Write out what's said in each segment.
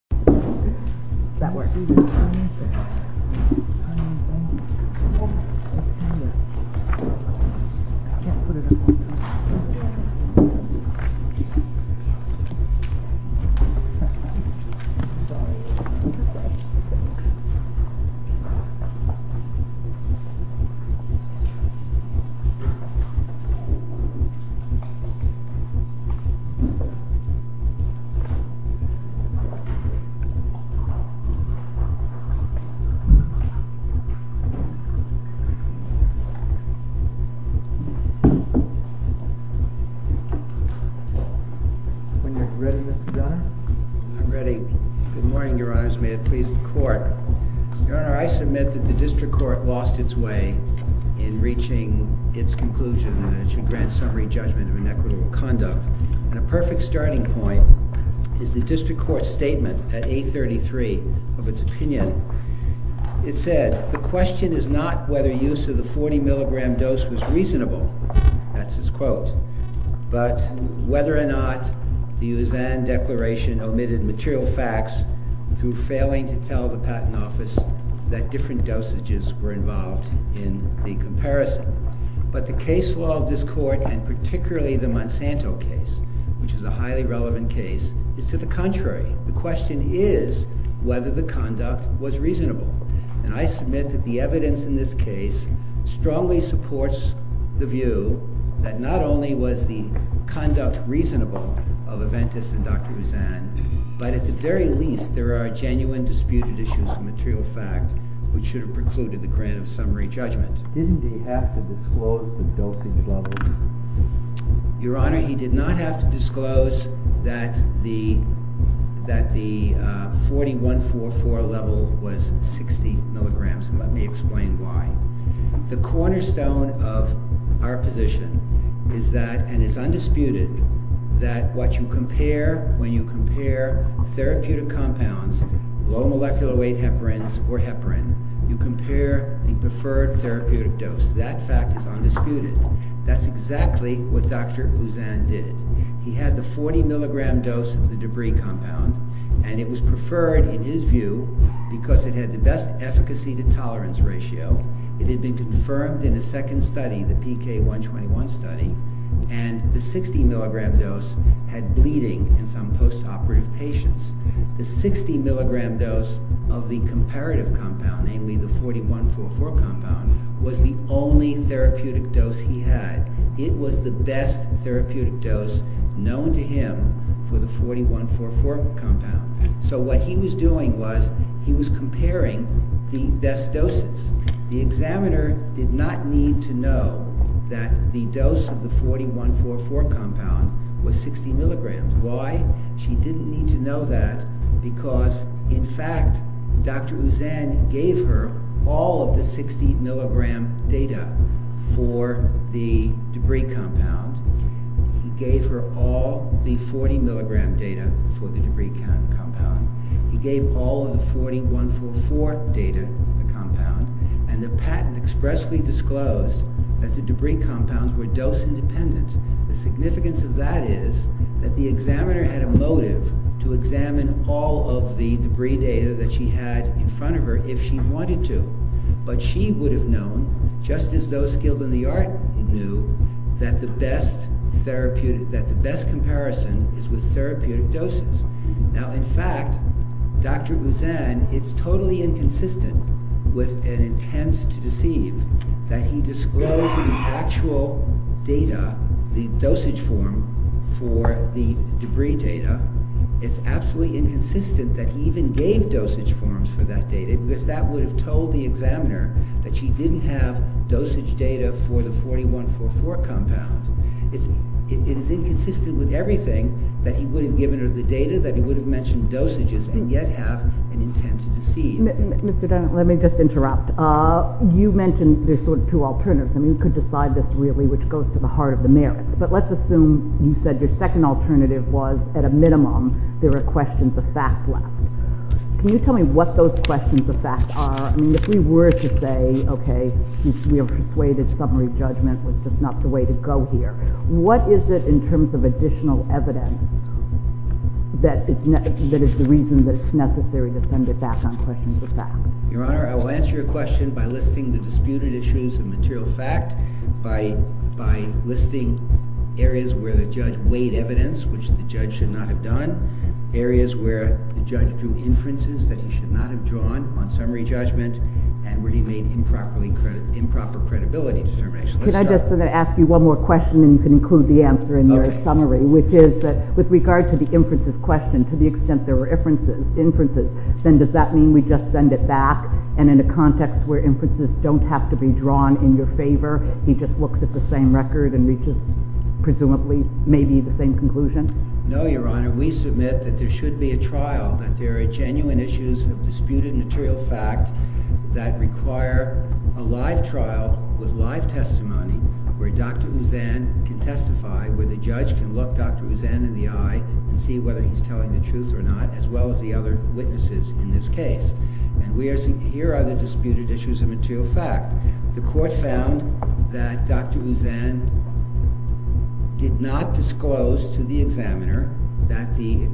Amphastar Pharma SA v. Amphastar Pharm V. Amphastar Pharma SA v. Amphastar Pharma When you're ready, Mr. Donn. I'm ready. Good morning, Your Honors. May it please the court. Your Honor, I submit that the District Court lost its way in reaching its conclusion that it should grant summary judgment of inequitable conduct, and a perfect starting point is the District Court's statement at 833 of its opinion. It said, The question is not whether use of the 40 mg dose was reasonable, that's its quote, but whether or not the Usanne Declaration omitted material facts through failing to tell the Patent Office that different dosages were involved in the comparison. But the case law of this Court, and particularly the Monsanto case, which is a highly relevant case, is to the contrary. The question is whether the conduct was reasonable. And I submit that the evidence in this case strongly supports the view that not only was the conduct reasonable of Aventis and Dr. Usanne, but at the very least there are genuine disputed issues of material fact which should have precluded the grant of summary judgment. Didn't he have to disclose the dosage level? Your Honor, he did not have to disclose that the 4144 level was 60 mg, and let me explain why. The cornerstone of our position is that, and it's undisputed, that what you compare when you compare therapeutic compounds, low molecular weight heparins or heparin, you compare the preferred therapeutic dose. That fact is undisputed. That's exactly what Dr. Usanne did. He had the 40 mg dose of the debris compound, and it was preferred in his view because it had the best efficacy-to-tolerance ratio. It had been confirmed in a second study, the PK-121 study, and the 60 mg dose had bleeding in some post-operative patients. The 60 mg dose of the comparative compound, namely the 4144 compound, was the only therapeutic dose he had. It was the best therapeutic dose known to him for the 4144 compound. So what he was doing was he was comparing the best doses. The examiner did not need to know that the dose of the 4144 compound was 60 mg. Why? She didn't need to know that because, in fact, Dr. Usanne gave her all of the 60 mg data for the debris compound. He gave her all the 40 mg data for the debris compound. He gave all of the 4144 data for the compound, and the patent expressly disclosed that the debris compounds were dose-independent. The significance of that is that the examiner had a motive to examine all of the debris data that she had in front of her if she wanted to, but she would have known, just as those skilled in the art knew, that the best comparison is with therapeutic doses. Now, in fact, Dr. Usanne, it's totally inconsistent with an intent to deceive that he disclosed the actual data, the dosage form for the debris data. It's absolutely inconsistent that he even gave dosage forms for that data because that would have told the examiner that she didn't have dosage data for the 4144 compound. It is inconsistent with everything that he would have given her the data that he would have mentioned dosages and yet have an intent to deceive. Mr. Dunn, let me just interrupt. You mentioned there's sort of two alternatives. I mean, we could decide this really, which goes to the heart of the merits, but let's assume you said your second alternative was, at a minimum, there are questions of facts left. Can you tell me what those questions of facts are? I mean, if we were to say, okay, we have persuaded summary judgment was just not the way to go here, what is it in terms of additional evidence that is the reason that it's necessary to send it back on questions of facts? Your Honor, I will answer your question by listing the disputed issues of material fact, by listing areas where the judge weighed evidence, which the judge should not have done, areas where the judge drew inferences that he should not have drawn on summary judgment, and where he made improper credibility determinations. Can I just ask you one more question, and you can include the answer in your summary, which is that with regard to the inferences question, to the extent there were inferences, then does that mean we just send it back? And in a context where inferences don't have to be drawn in your favor, he just looks at the same record and reaches, presumably, maybe the same conclusion? No, Your Honor. We submit that there should be a trial, that there are genuine issues of disputed material fact that require a live trial with live testimony where Dr. Uzan can testify, where the judge can look Dr. Uzan in the eye and see whether he's telling the truth or not, as well as the other witnesses in this case. And here are the disputed issues of material fact. The court found that Dr. Uzan did not disclose to the examiner that the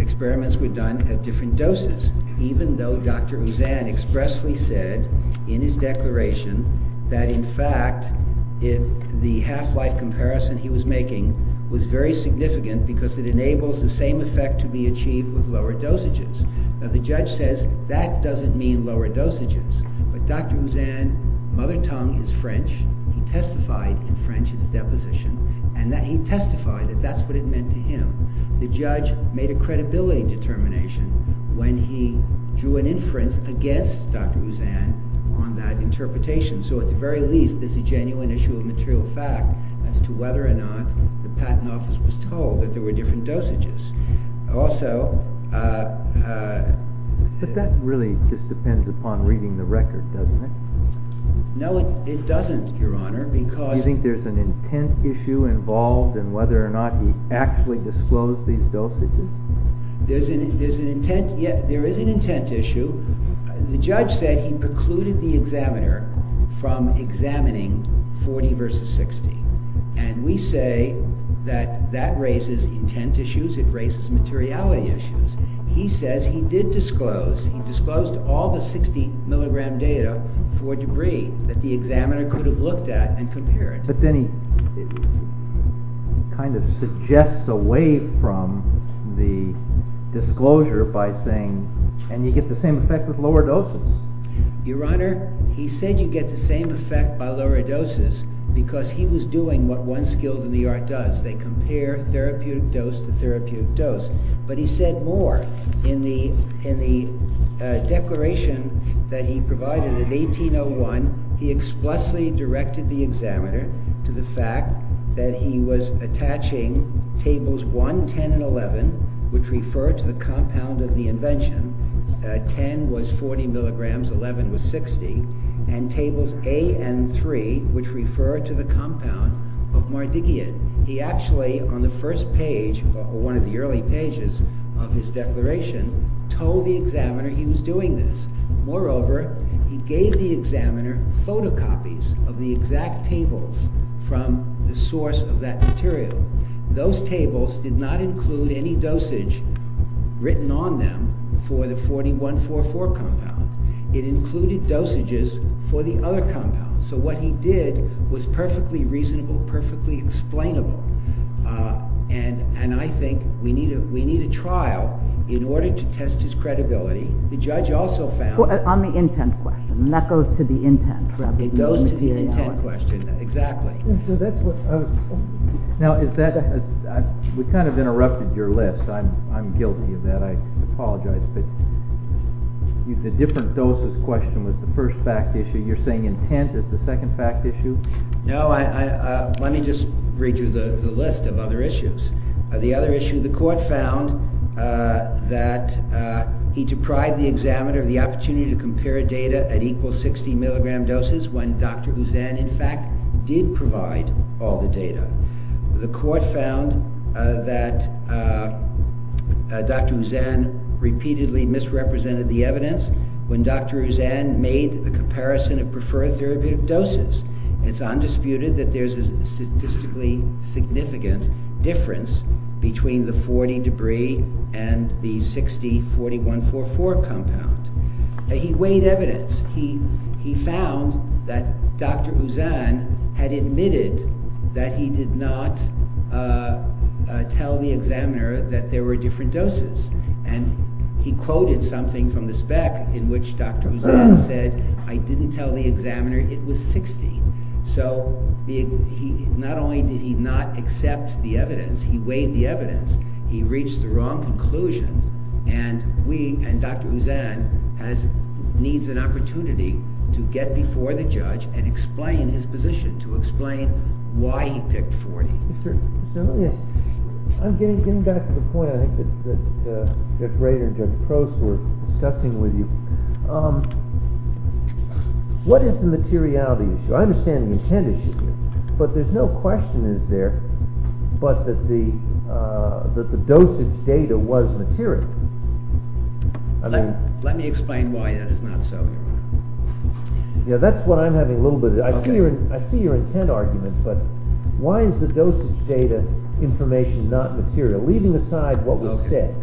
experiments were done at different doses, even though Dr. Uzan expressly said in his declaration that, in fact, the half-life comparison he was making was very significant because it enables the same effect to be achieved with lower dosages. Now, the judge says that doesn't mean lower dosages, but Dr. Uzan's mother tongue is French. He testified in French in his deposition, and he testified that that's what it meant to him. The judge made a credibility determination when he drew an inference against Dr. Uzan on that interpretation. So at the very least, there's a genuine issue of material fact as to whether or not the patent office was told that there were different dosages. Also— But that really just depends upon reading the record, doesn't it? No, it doesn't, Your Honor, because— Do you think there's an intent issue involved in whether or not he actually disclosed these dosages? There is an intent issue. The judge said he precluded the examiner from examining 40 versus 60, and we say that that raises intent issues. It raises materiality issues. He says he did disclose. He disclosed all the 60-milligram data for debris that the examiner could have looked at and compared. But then he kind of suggests away from the disclosure by saying— And you get the same effect with lower doses. Your Honor, he said you get the same effect by lower doses because he was doing what one skilled in the art does. They compare therapeutic dose to therapeutic dose. But he said more. In the declaration that he provided in 1801, he explicitly directed the examiner to the fact that he was attaching Tables 1, 10, and 11, which refer to the compound of the invention— 10 was 40 milligrams, 11 was 60— and Tables A and 3, which refer to the compound of Mardigian. He actually, on the first page, one of the early pages of his declaration, told the examiner he was doing this. Moreover, he gave the examiner photocopies of the exact tables from the source of that material. Those tables did not include any dosage written on them for the 4144 compounds. It included dosages for the other compounds. So what he did was perfectly reasonable, perfectly explainable. And I think we need a trial in order to test his credibility. The judge also found— On the intent question, and that goes to the intent. It goes to the intent question, exactly. Now, is that—we kind of interrupted your list. I'm guilty of that. I apologize. But the different doses question was the first fact issue. You're saying intent is the second fact issue? No, let me just read you the list of other issues. The other issue, the court found that he deprived the examiner of the opportunity to compare data at equal 60 milligram doses when Dr. Huzan, in fact, did provide all the data. The court found that Dr. Huzan repeatedly misrepresented the evidence when Dr. Huzan made the comparison of preferred therapeutic doses. It's undisputed that there's a statistically significant difference between the 40-debris and the 60-4144 compound. He weighed evidence. He found that Dr. Huzan had admitted that he did not tell the examiner that there were different doses. And he quoted something from the spec in which Dr. Huzan said, I didn't tell the examiner it was 60. So not only did he not accept the evidence, he weighed the evidence. He reached the wrong conclusion. And we, and Dr. Huzan, needs an opportunity to get before the judge and explain his position, to explain why he picked 40. I'm getting back to the point, I think, that Judge Rader and Judge Prost were discussing with you. What is the materiality issue? I understand the intent issue, but there's no question, is there, but that the dosage data was material. Let me explain why that is not so. Yeah, that's what I'm having a little bit of. I see your intent arguments, but why is the dosage data information not material? Leaving aside what was said.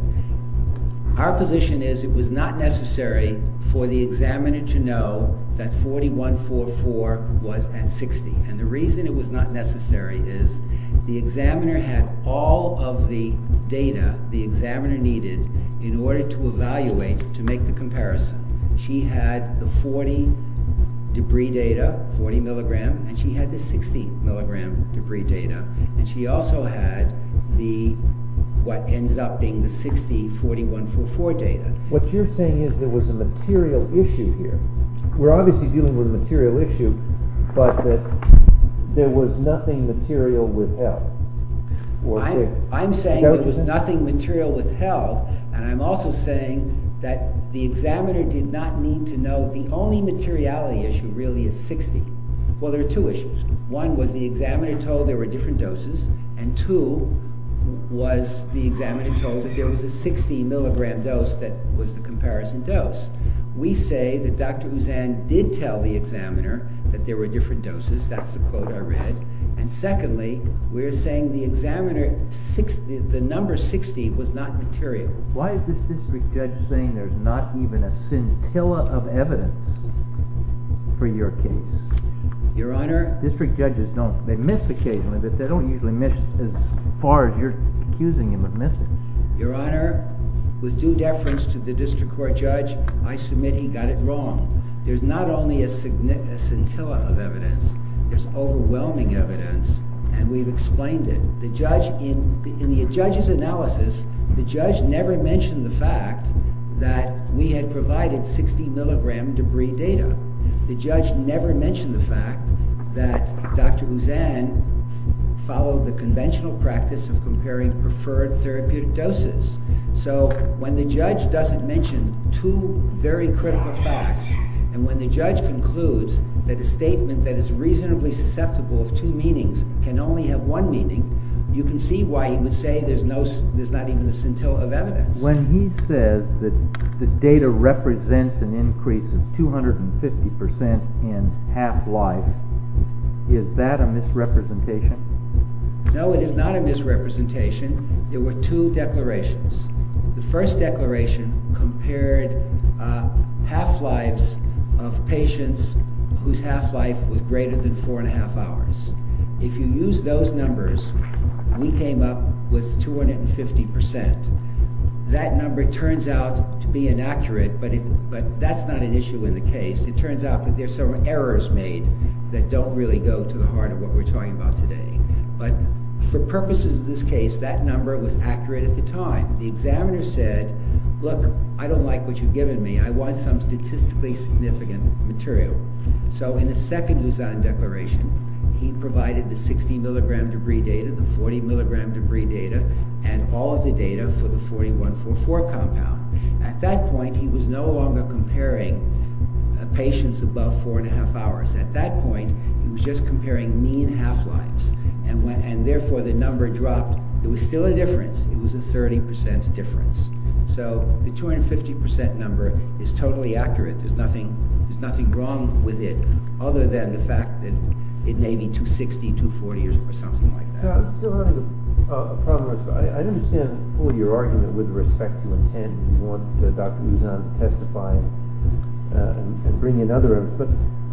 Our position is it was not necessary for the examiner to know that 4144 was at 60. And the reason it was not necessary is the examiner had all of the data the examiner needed in order to evaluate, to make the comparison. She had the 40 debris data, 40 milligram, and she had the 60 milligram debris data. And she also had the, what ends up being the 60, 4144 data. What you're saying is there was a material issue here. We're obviously dealing with a material issue, but that there was nothing material withheld. I'm saying there was nothing material withheld, and I'm also saying that the examiner did not need to know the only materiality issue really is 60. Well, there are two issues. One was the examiner told there were different doses, and two was the examiner told that there was a 60 milligram dose that was the comparison dose. We say that Dr. Uzan did tell the examiner that there were different doses. That's the quote I read. And secondly, we're saying the examiner, the number 60 was not material. Why is this district judge saying there's not even a scintilla of evidence for your case? Your Honor? District judges don't, they miss occasionally, but they don't usually miss as far as you're accusing them of missing. Your Honor, with due deference to the district court judge, I submit he got it wrong. There's not only a scintilla of evidence, there's overwhelming evidence, and we've explained it. In the judge's analysis, the judge never mentioned the fact that we had provided 60 milligram debris data. The judge never mentioned the fact that Dr. Uzan followed the conventional practice of comparing preferred therapeutic doses. So when the judge doesn't mention two very critical facts, and when the judge concludes that a statement that is reasonably susceptible of two meanings can only have one meaning, you can see why he would say there's not even a scintilla of evidence. When he says that the data represents an increase of 250 percent in half-life, is that a misrepresentation? No, it is not a misrepresentation. There were two declarations. The first declaration compared half-lives of patients whose half-life was greater than four and a half hours. If you use those numbers, we came up with 250 percent. That number turns out to be inaccurate, but that's not an issue in the case. It turns out that there are several errors made that don't really go to the heart of what we're talking about today. But for purposes of this case, that number was accurate at the time. The examiner said, look, I don't like what you've given me. I want some statistically significant material. So in the second Uzan declaration, he provided the 60 milligram debris data, the 40 milligram debris data, and all of the data for the 4144 compound. At that point, he was no longer comparing patients above four and a half hours. At that point, he was just comparing mean half-lives, and therefore the number dropped. It was still a difference. It was a 30 percent difference. So the 250 percent number is totally accurate. There's nothing wrong with it other than the fact that it may be 260, 240, or something like that. I'm still having a problem. I understand fully your argument with respect to intent. You want Dr. Uzan to testify and bring in other evidence. But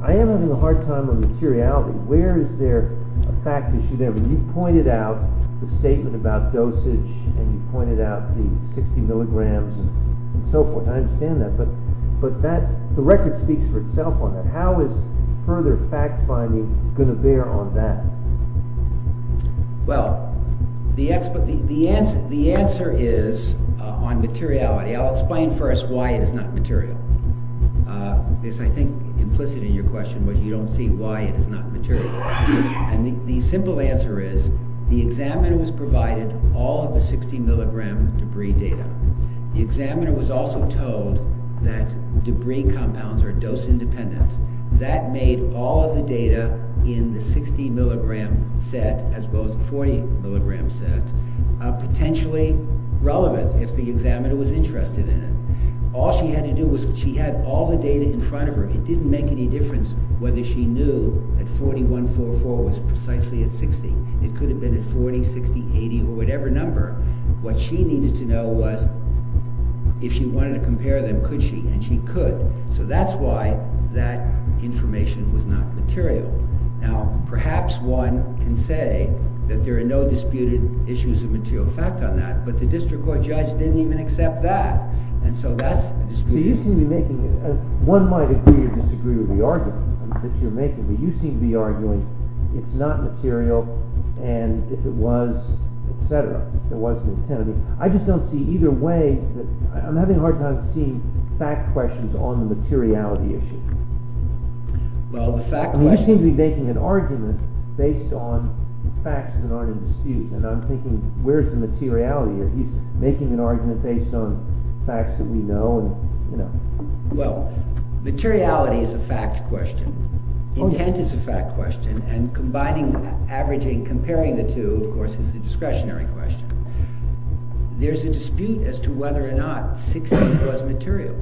I am having a hard time with materiality. Where is there a fact issue there? I mean, you pointed out the statement about dosage, and you pointed out the 60 milligrams and so forth. I understand that. But the record speaks for itself on that. How is further fact-finding going to bear on that? Well, the answer is on materiality. I'll explain first why it is not material. I think implicit in your question was you don't see why it is not material. And the simple answer is the examiner was provided all of the 60 milligram debris data. The examiner was also told that debris compounds are dose-independent. That made all of the data in the 60 milligram set as well as the 40 milligram set potentially relevant if the examiner was interested in it. All she had to do was she had all the data in front of her. It didn't make any difference whether she knew that 4144 was precisely at 60. It could have been at 40, 60, 80, or whatever number. What she needed to know was if she wanted to compare them, could she? And she could. So that's why that information was not material. Now, perhaps one can say that there are no disputed issues of material fact on that, but the district court judge didn't even accept that. And so that's a disputed issue. I just don't see either way. I'm having a hard time seeing fact questions on the materiality issue. He seems to be making an argument based on facts that aren't in dispute. And I'm thinking where's the materiality? He's making an argument based on facts that we know. Well, materiality is a fact question. Intent is a fact question. And combining, averaging, comparing the two, of course, is a discretionary question. There's a dispute as to whether or not 60 was material.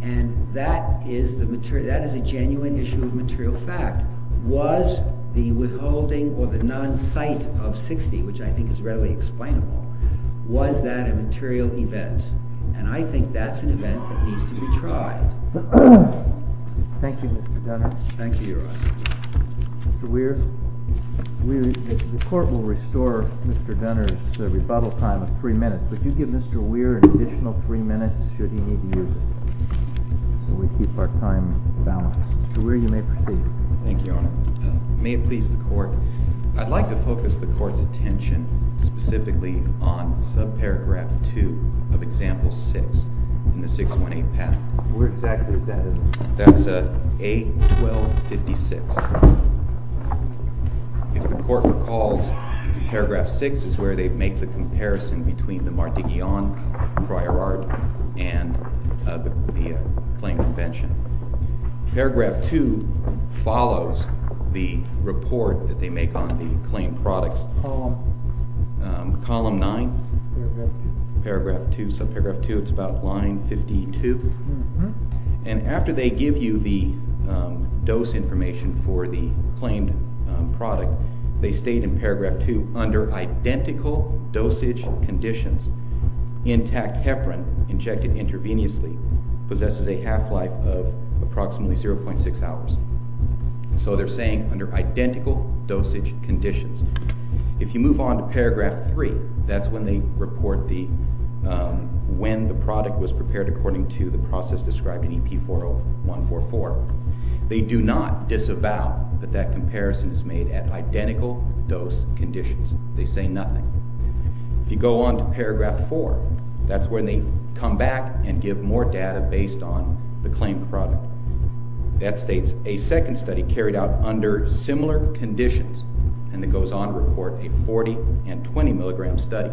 And that is a genuine issue of material fact. Was the withholding or the non-cite of 60, which I think is readily explainable, was that a material event? And I think that's an event that needs to be tried. Thank you, Mr. Dunner. Thank you, Your Honor. Mr. Weir, the court will restore Mr. Dunner's rebuttal time of three minutes. Would you give Mr. Weir an additional three minutes should he need to use it so we keep our time balanced? Mr. Weir, you may proceed. Thank you, Your Honor. May it please the court, I'd like to focus the court's attention specifically on subparagraph 2 of example 6 in the 618 path. Where exactly is that? That's A1256. If the court recalls, paragraph 6 is where they make the comparison between the Martiguillan prior art and the claim convention. Paragraph 2 follows the report that they make on the claim products. Column? Column 9. Paragraph 2. In subparagraph 2, it's about line 52. And after they give you the dose information for the claimed product, they state in paragraph 2, under identical dosage conditions, intact heparin injected intravenously possesses a half-life of approximately 0.6 hours. So they're saying under identical dosage conditions. If you move on to paragraph 3, that's when they report when the product was prepared according to the process described in EP40144. They do not disavow that that comparison is made at identical dose conditions. They say nothing. If you go on to paragraph 4, that's when they come back and give more data based on the claimed product. That states a second study carried out under similar conditions. And it goes on to report a 40 and 20 milligram study.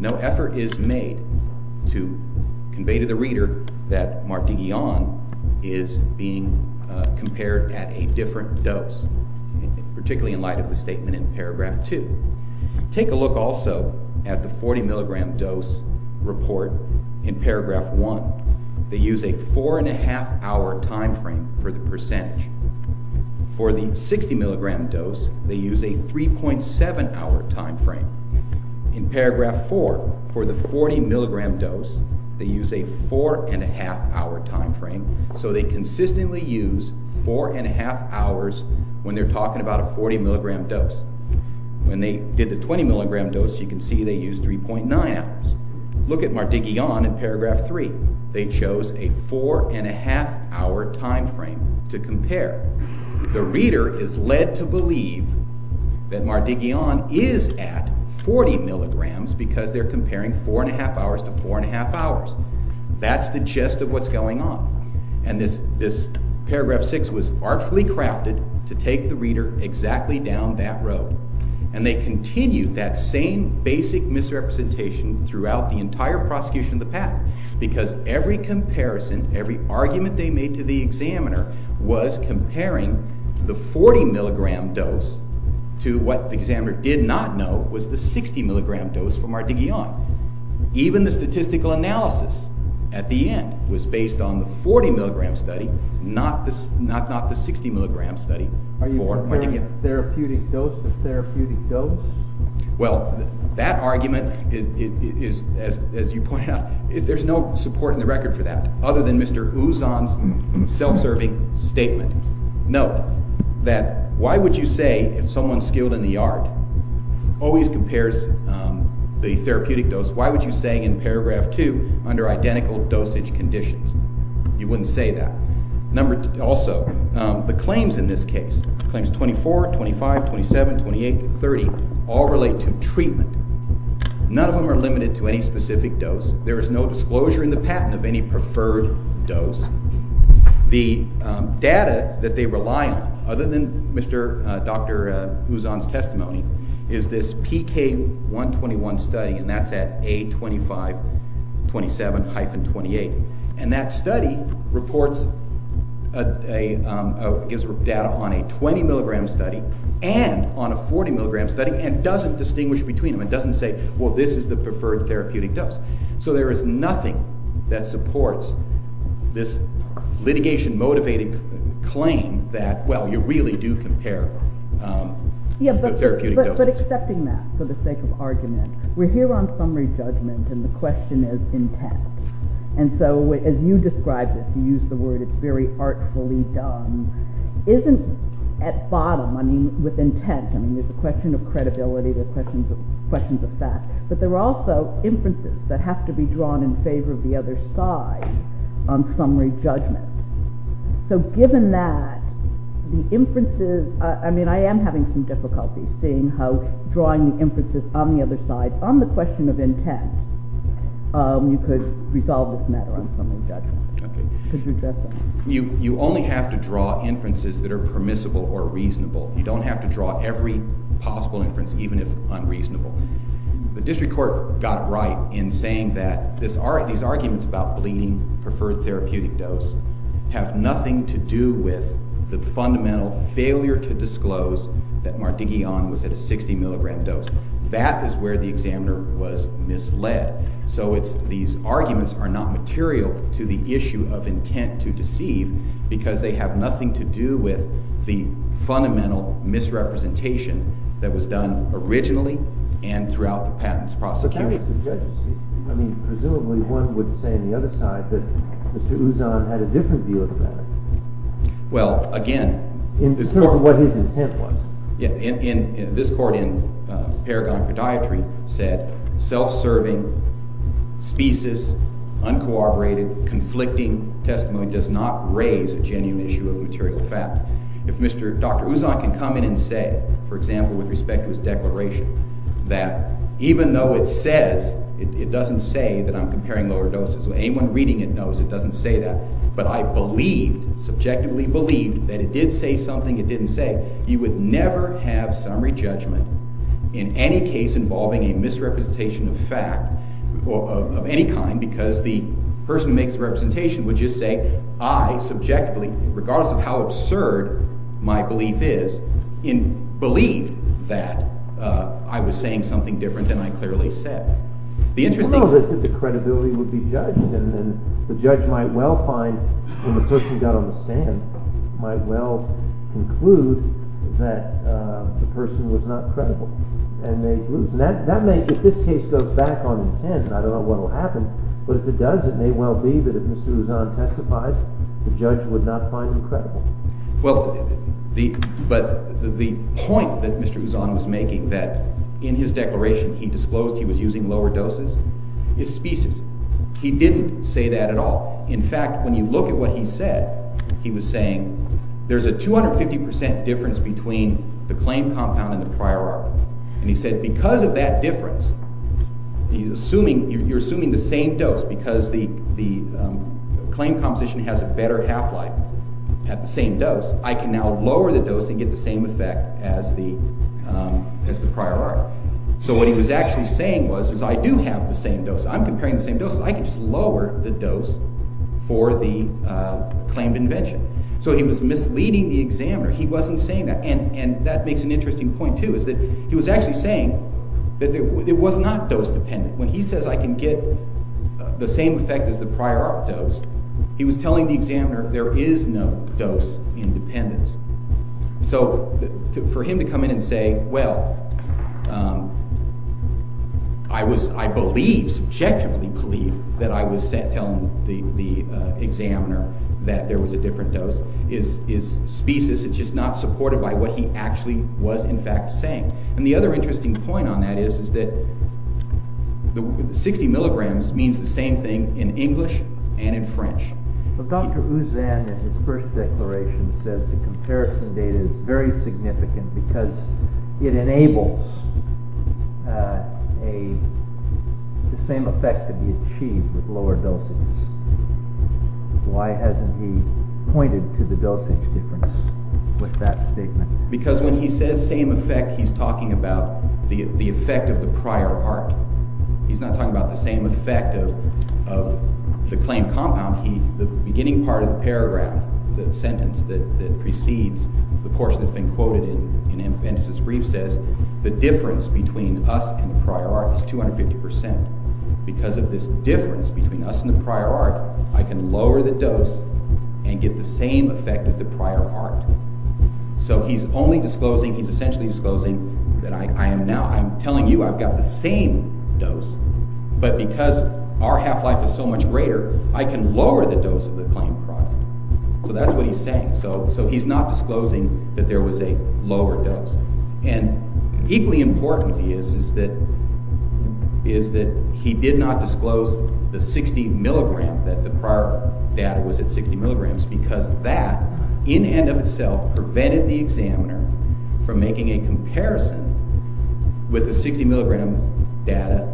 No effort is made to convey to the reader that Martiguillan is being compared at a different dose. Particularly in light of the statement in paragraph 2. Take a look also at the 40 milligram dose report in paragraph 1. They use a 4 1⁄2 hour time frame for the percentage. For the 60 milligram dose, they use a 3.7 hour time frame. In paragraph 4, for the 40 milligram dose, they use a 4 1⁄2 hour time frame. So they consistently use 4 1⁄2 hours when they're talking about a 40 milligram dose. When they did the 20 milligram dose, you can see they used 3.9 hours. Look at Martiguillan in paragraph 3. They chose a 4 1⁄2 hour time frame to compare. The reader is led to believe that Martiguillan is at 40 milligrams because they're comparing 4 1⁄2 hours to 4 1⁄2 hours. That's the gist of what's going on. And this paragraph 6 was artfully crafted to take the reader exactly down that road. And they continued that same basic misrepresentation throughout the entire prosecution of the patent because every comparison, every argument they made to the examiner was comparing the 40 milligram dose to what the examiner did not know was the 60 milligram dose for Martiguillan. Even the statistical analysis at the end was based on the 40 milligram study, not the 60 milligram study for Martiguillan. The therapeutic dose to therapeutic dose? Well, that argument is, as you point out, there's no support in the record for that other than Mr. Ouzon's self-serving statement. Note that why would you say if someone skilled in the art always compares the therapeutic dose, why would you say in paragraph 2 under identical dosage conditions? You wouldn't say that. Also, the claims in this case, claims 24, 25, 27, 28, 30, all relate to treatment. None of them are limited to any specific dose. There is no disclosure in the patent of any preferred dose. The data that they rely on, other than Dr. Ouzon's testimony, is this PK121 study, and that's at A2527-28. And that study gives data on a 20 milligram study and on a 40 milligram study and doesn't distinguish between them. It doesn't say, well, this is the preferred therapeutic dose. So there is nothing that supports this litigation-motivated claim that, well, you really do compare therapeutic doses. But accepting that for the sake of argument, we're here on summary judgment, and the question is intact. And so as you describe this, you use the word it's very artfully done, isn't at bottom, I mean, with intent. I mean, there's a question of credibility. There are questions of fact. But there are also inferences that have to be drawn in favor of the other side on summary judgment. So given that, the inferences, I mean, I am having some difficulty seeing how drawing the inferences on the other side, but on the question of intent, you could resolve this matter on summary judgment. Could you address that? You only have to draw inferences that are permissible or reasonable. You don't have to draw every possible inference, even if unreasonable. The district court got it right in saying that these arguments about bleeding, preferred therapeutic dose, have nothing to do with the fundamental failure to disclose that Mardigian was at a 60 milligram dose. That is where the examiner was misled. So these arguments are not material to the issue of intent to deceive because they have nothing to do with the fundamental misrepresentation that was done originally and throughout the patent's prosecution. But that was the judge's view. I mean, presumably one would say on the other side that Mr. Ouzon had a different view of the matter. Well, again, this court— In terms of what his intent was. This court in paragon of podiatry said self-serving, specious, uncooperative, conflicting testimony does not raise a genuine issue of material fact. If Dr. Ouzon can come in and say, for example, with respect to his declaration, that even though it says—it doesn't say that I'm comparing lower doses. Anyone reading it knows it doesn't say that. But I believed, subjectively believed, that it did say something it didn't say. You would never have summary judgment in any case involving a misrepresentation of fact of any kind because the person who makes the representation would just say, I subjectively, regardless of how absurd my belief is, believed that I was saying something different than I clearly said. The interesting— I don't know that the credibility would be judged. The judge might well find, when the person got on the stand, might well conclude that the person was not credible. And that may, if this case goes back on intent, I don't know what will happen. But if it does, it may well be that if Mr. Ouzon testifies, the judge would not find him credible. Well, but the point that Mr. Ouzon was making that in his declaration he disclosed he was using lower doses is specious. He didn't say that at all. In fact, when you look at what he said, he was saying, there's a 250 percent difference between the claim compound and the prior article. And he said, because of that difference, you're assuming the same dose because the claim composition has a better half-life at the same dose. I can now lower the dose and get the same effect as the prior article. So what he was actually saying was, is I do have the same dose. I'm comparing the same dose, so I can just lower the dose for the claimed invention. So he was misleading the examiner. He wasn't saying that. And that makes an interesting point, too, is that he was actually saying that it was not dose-dependent. When he says I can get the same effect as the prior article dose, he was telling the examiner there is no dose independence. So for him to come in and say, well, I believe, subjectively believe, that I was telling the examiner that there was a different dose is specious. It's just not supported by what he actually was in fact saying. And the other interesting point on that is that 60 milligrams means the same thing in English and in French. Dr. Ouzan, in his first declaration, said the comparison data is very significant because it enables the same effect to be achieved with lower dosages. Why hasn't he pointed to the dosage difference with that statement? Because when he says same effect, he's talking about the effect of the prior art. He's not talking about the same effect of the claim compound. The beginning part of the paragraph, the sentence that precedes the portion that's been quoted in his brief says the difference between us and the prior art is 250%. Because of this difference between us and the prior art, I can lower the dose and get the same effect as the prior art. So he's only disclosing, he's essentially disclosing that I am now, I'm telling you I've got the same dose, but because our half-life is so much greater, I can lower the dose of the claim product. So that's what he's saying. So he's not disclosing that there was a lower dose. And equally important is that he did not disclose the 60 milligrams, that the prior data was at 60 milligrams, because that in and of itself prevented the examiner from making a comparison with the 60 milligram data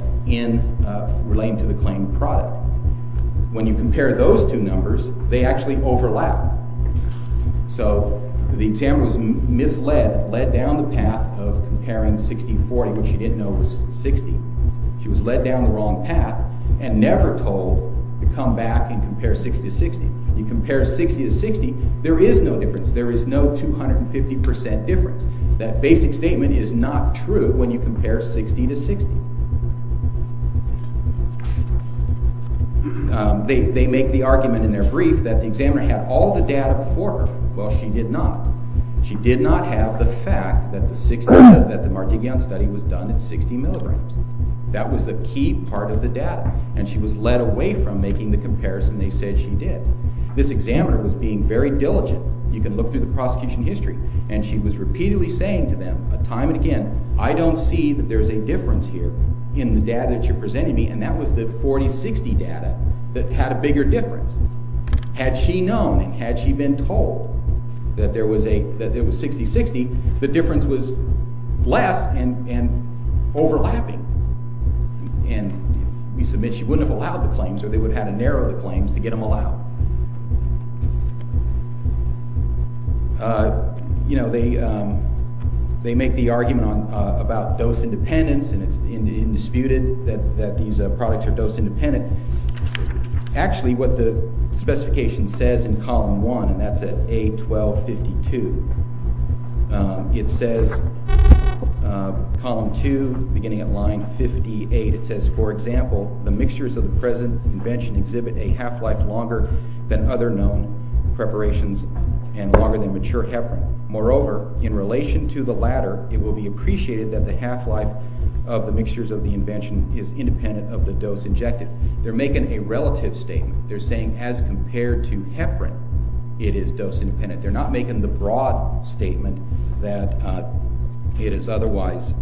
relating to the claim product. When you compare those two numbers, they actually overlap. So the examiner was misled, led down the path of comparing 60-40 when she didn't know it was 60. She was led down the wrong path and never told to come back and compare 60-60. You compare 60-60, there is no difference. There is no 250% difference. That basic statement is not true when you compare 60-60. They make the argument in their brief that the examiner had all the data before her. Well, she did not. She did not have the fact that the Markigianni study was done at 60 milligrams. That was the key part of the data, and she was led away from making the comparison they said she did. This examiner was being very diligent. You can look through the prosecution history, and she was repeatedly saying to them time and again, I don't see that there is a difference here in the data that you're presenting me, and that was the 40-60 data that had a bigger difference. Had she known and had she been told that it was 60-60, the difference was less and overlapping. We submit she wouldn't have allowed the claims, or they would have had to narrow the claims to get them allowed. They make the argument about dose independence, and it's disputed that these products are dose independent. Actually, what the specification says in column 1, and that's at A1252, it says, column 2, beginning at line 58, it says, for example, the mixtures of the present invention exhibit a half-life longer than other known preparations and longer than mature heparin. Moreover, in relation to the latter, it will be appreciated that the half-life of the mixtures of the invention is independent of the dose injected. They're making a relative statement. They're saying as compared to heparin, it is dose independent. They're not making the broad statement that it is otherwise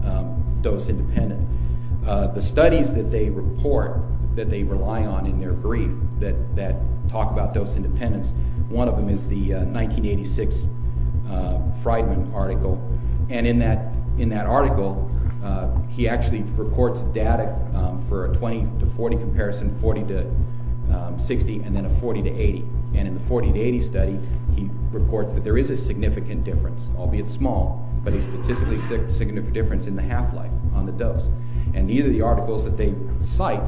dose independent. The studies that they report that they rely on in their brief that talk about dose independence, one of them is the 1986 Freidman article. In that article, he actually reports data for a 20-40 comparison, 40-60, and then a 40-80. And in the 40-80 study, he reports that there is a significant difference, albeit small, but a statistically significant difference in the half-life on the dose. And neither of the articles that they cite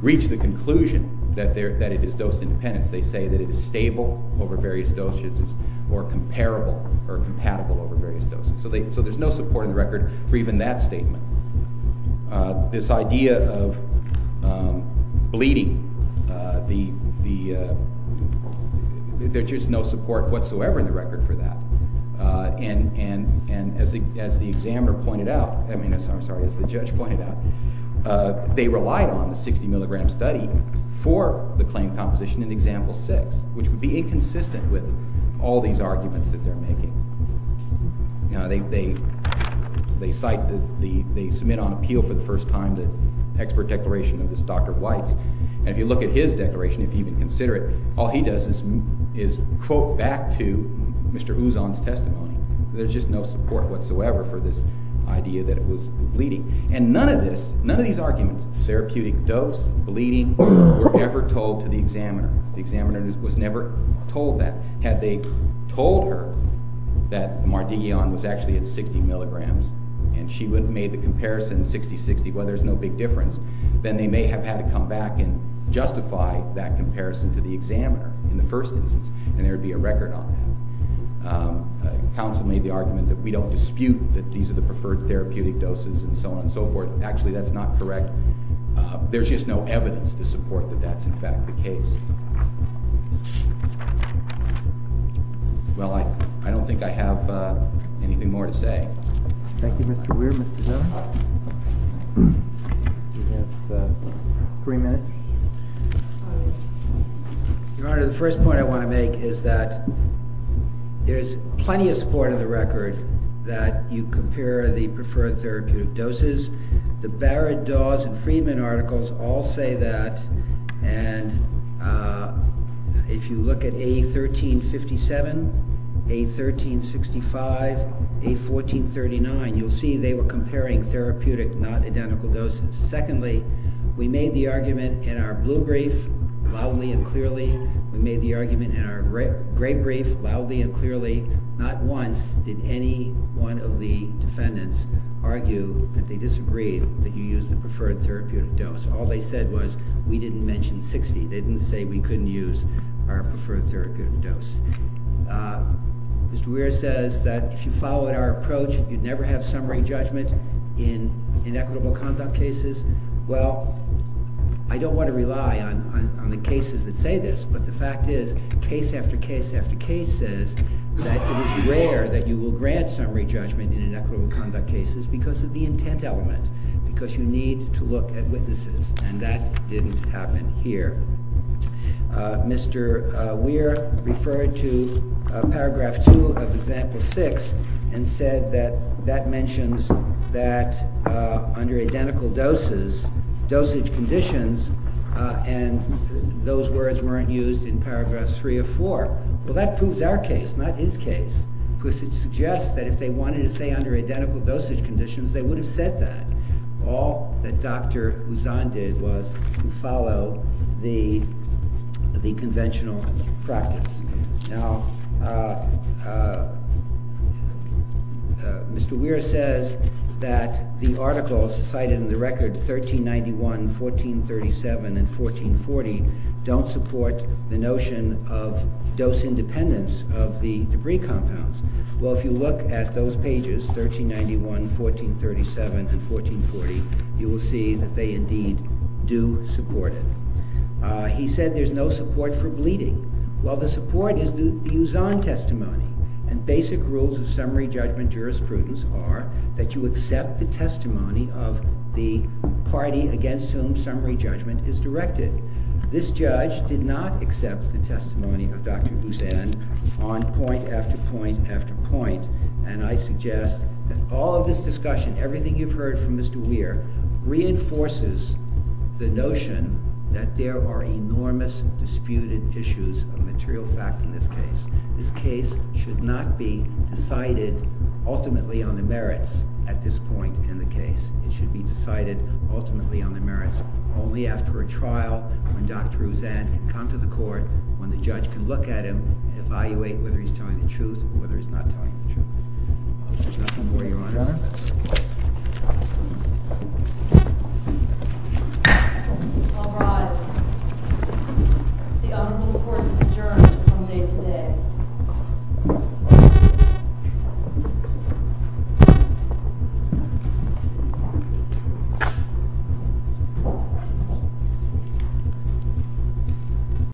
reach the conclusion that it is dose independent. They say that it is stable over various doses or comparable or compatible over various doses. So there's no support in the record for even that statement. This idea of bleeding, there's just no support whatsoever in the record for that. And as the examiner pointed out, I'm sorry, as the judge pointed out, they relied on the 60-milligram study for the claim composition in Example 6, which would be inconsistent with all these arguments that they're making. They cite, they submit on appeal for the first time the expert declaration of this Dr. Weitz. And if you look at his declaration, if you even consider it, all he does is quote back to Mr. Ouzon's testimony. There's just no support whatsoever for this idea that it was bleeding. And none of this, none of these arguments, therapeutic dose, bleeding, were ever told to the examiner. The examiner was never told that. Had they told her that Mardigian was actually at 60 milligrams and she would have made the comparison 60-60, well, there's no big difference, then they may have had to come back and justify that comparison to the examiner in the first instance, and there would be a record on that. Counsel made the argument that we don't dispute that these are the preferred therapeutic doses and so on and so forth. Actually, that's not correct. There's just no evidence to support that that's in fact the case. Well, I don't think I have anything more to say. Thank you, Mr. Weir. Mr. Zim? You have three minutes. Your Honor, the first point I want to make is that there's plenty of support in the record that you compare the preferred therapeutic doses. The Barrett-Dawes and Freeman articles all say that. And if you look at A1357, A1365, A1439, you'll see they were comparing therapeutic, not identical doses. Secondly, we made the argument in our blue brief, loudly and clearly. We made the argument in our gray brief, loudly and clearly. Not once did any one of the defendants argue that they disagreed that you use the preferred therapeutic dose. All they said was we didn't mention 60. They didn't say we couldn't use our preferred therapeutic dose. Mr. Weir says that if you followed our approach, you'd never have summary judgment in inequitable conduct cases. Well, I don't want to rely on the cases that say this, but the fact is case after case after case says that it is rare that you will grant summary judgment in inequitable conduct cases because of the intent element, because you need to look at witnesses, and that didn't happen here. Mr. Weir referred to Paragraph 2 of Example 6 and said that that mentions that under identical dosage conditions, and those words weren't used in Paragraph 3 of 4. Well, that proves our case, not his case, because it suggests that if they wanted to say that under identical dosage conditions, they would have said that. All that Dr. Huzon did was follow the conventional practice. Mr. Weir says that the articles cited in the record 1391, 1437, and 1440 don't support the notion of dose independence of the debris compounds. Well, if you look at those pages, 1391, 1437, and 1440, you will see that they indeed do support it. He said there's no support for bleeding. Well, the support is the Huzon testimony, and basic rules of summary judgment jurisprudence are that you accept the testimony of the party against whom summary judgment is directed. This judge did not accept the testimony of Dr. Huzon on point after point after point, and I suggest that all of this discussion, everything you've heard from Mr. Weir, reinforces the notion that there are enormous disputed issues of material fact in this case. This case should not be decided ultimately on the merits at this point in the case. It should be decided ultimately on the merits only after a trial, when Dr. Huzon can come to the court, when the judge can look at him and evaluate whether he's telling the truth or whether he's not telling the truth. Mr. John Moore, Your Honor. I'll rise. The honorable court is adjourned from day to day. Thank you.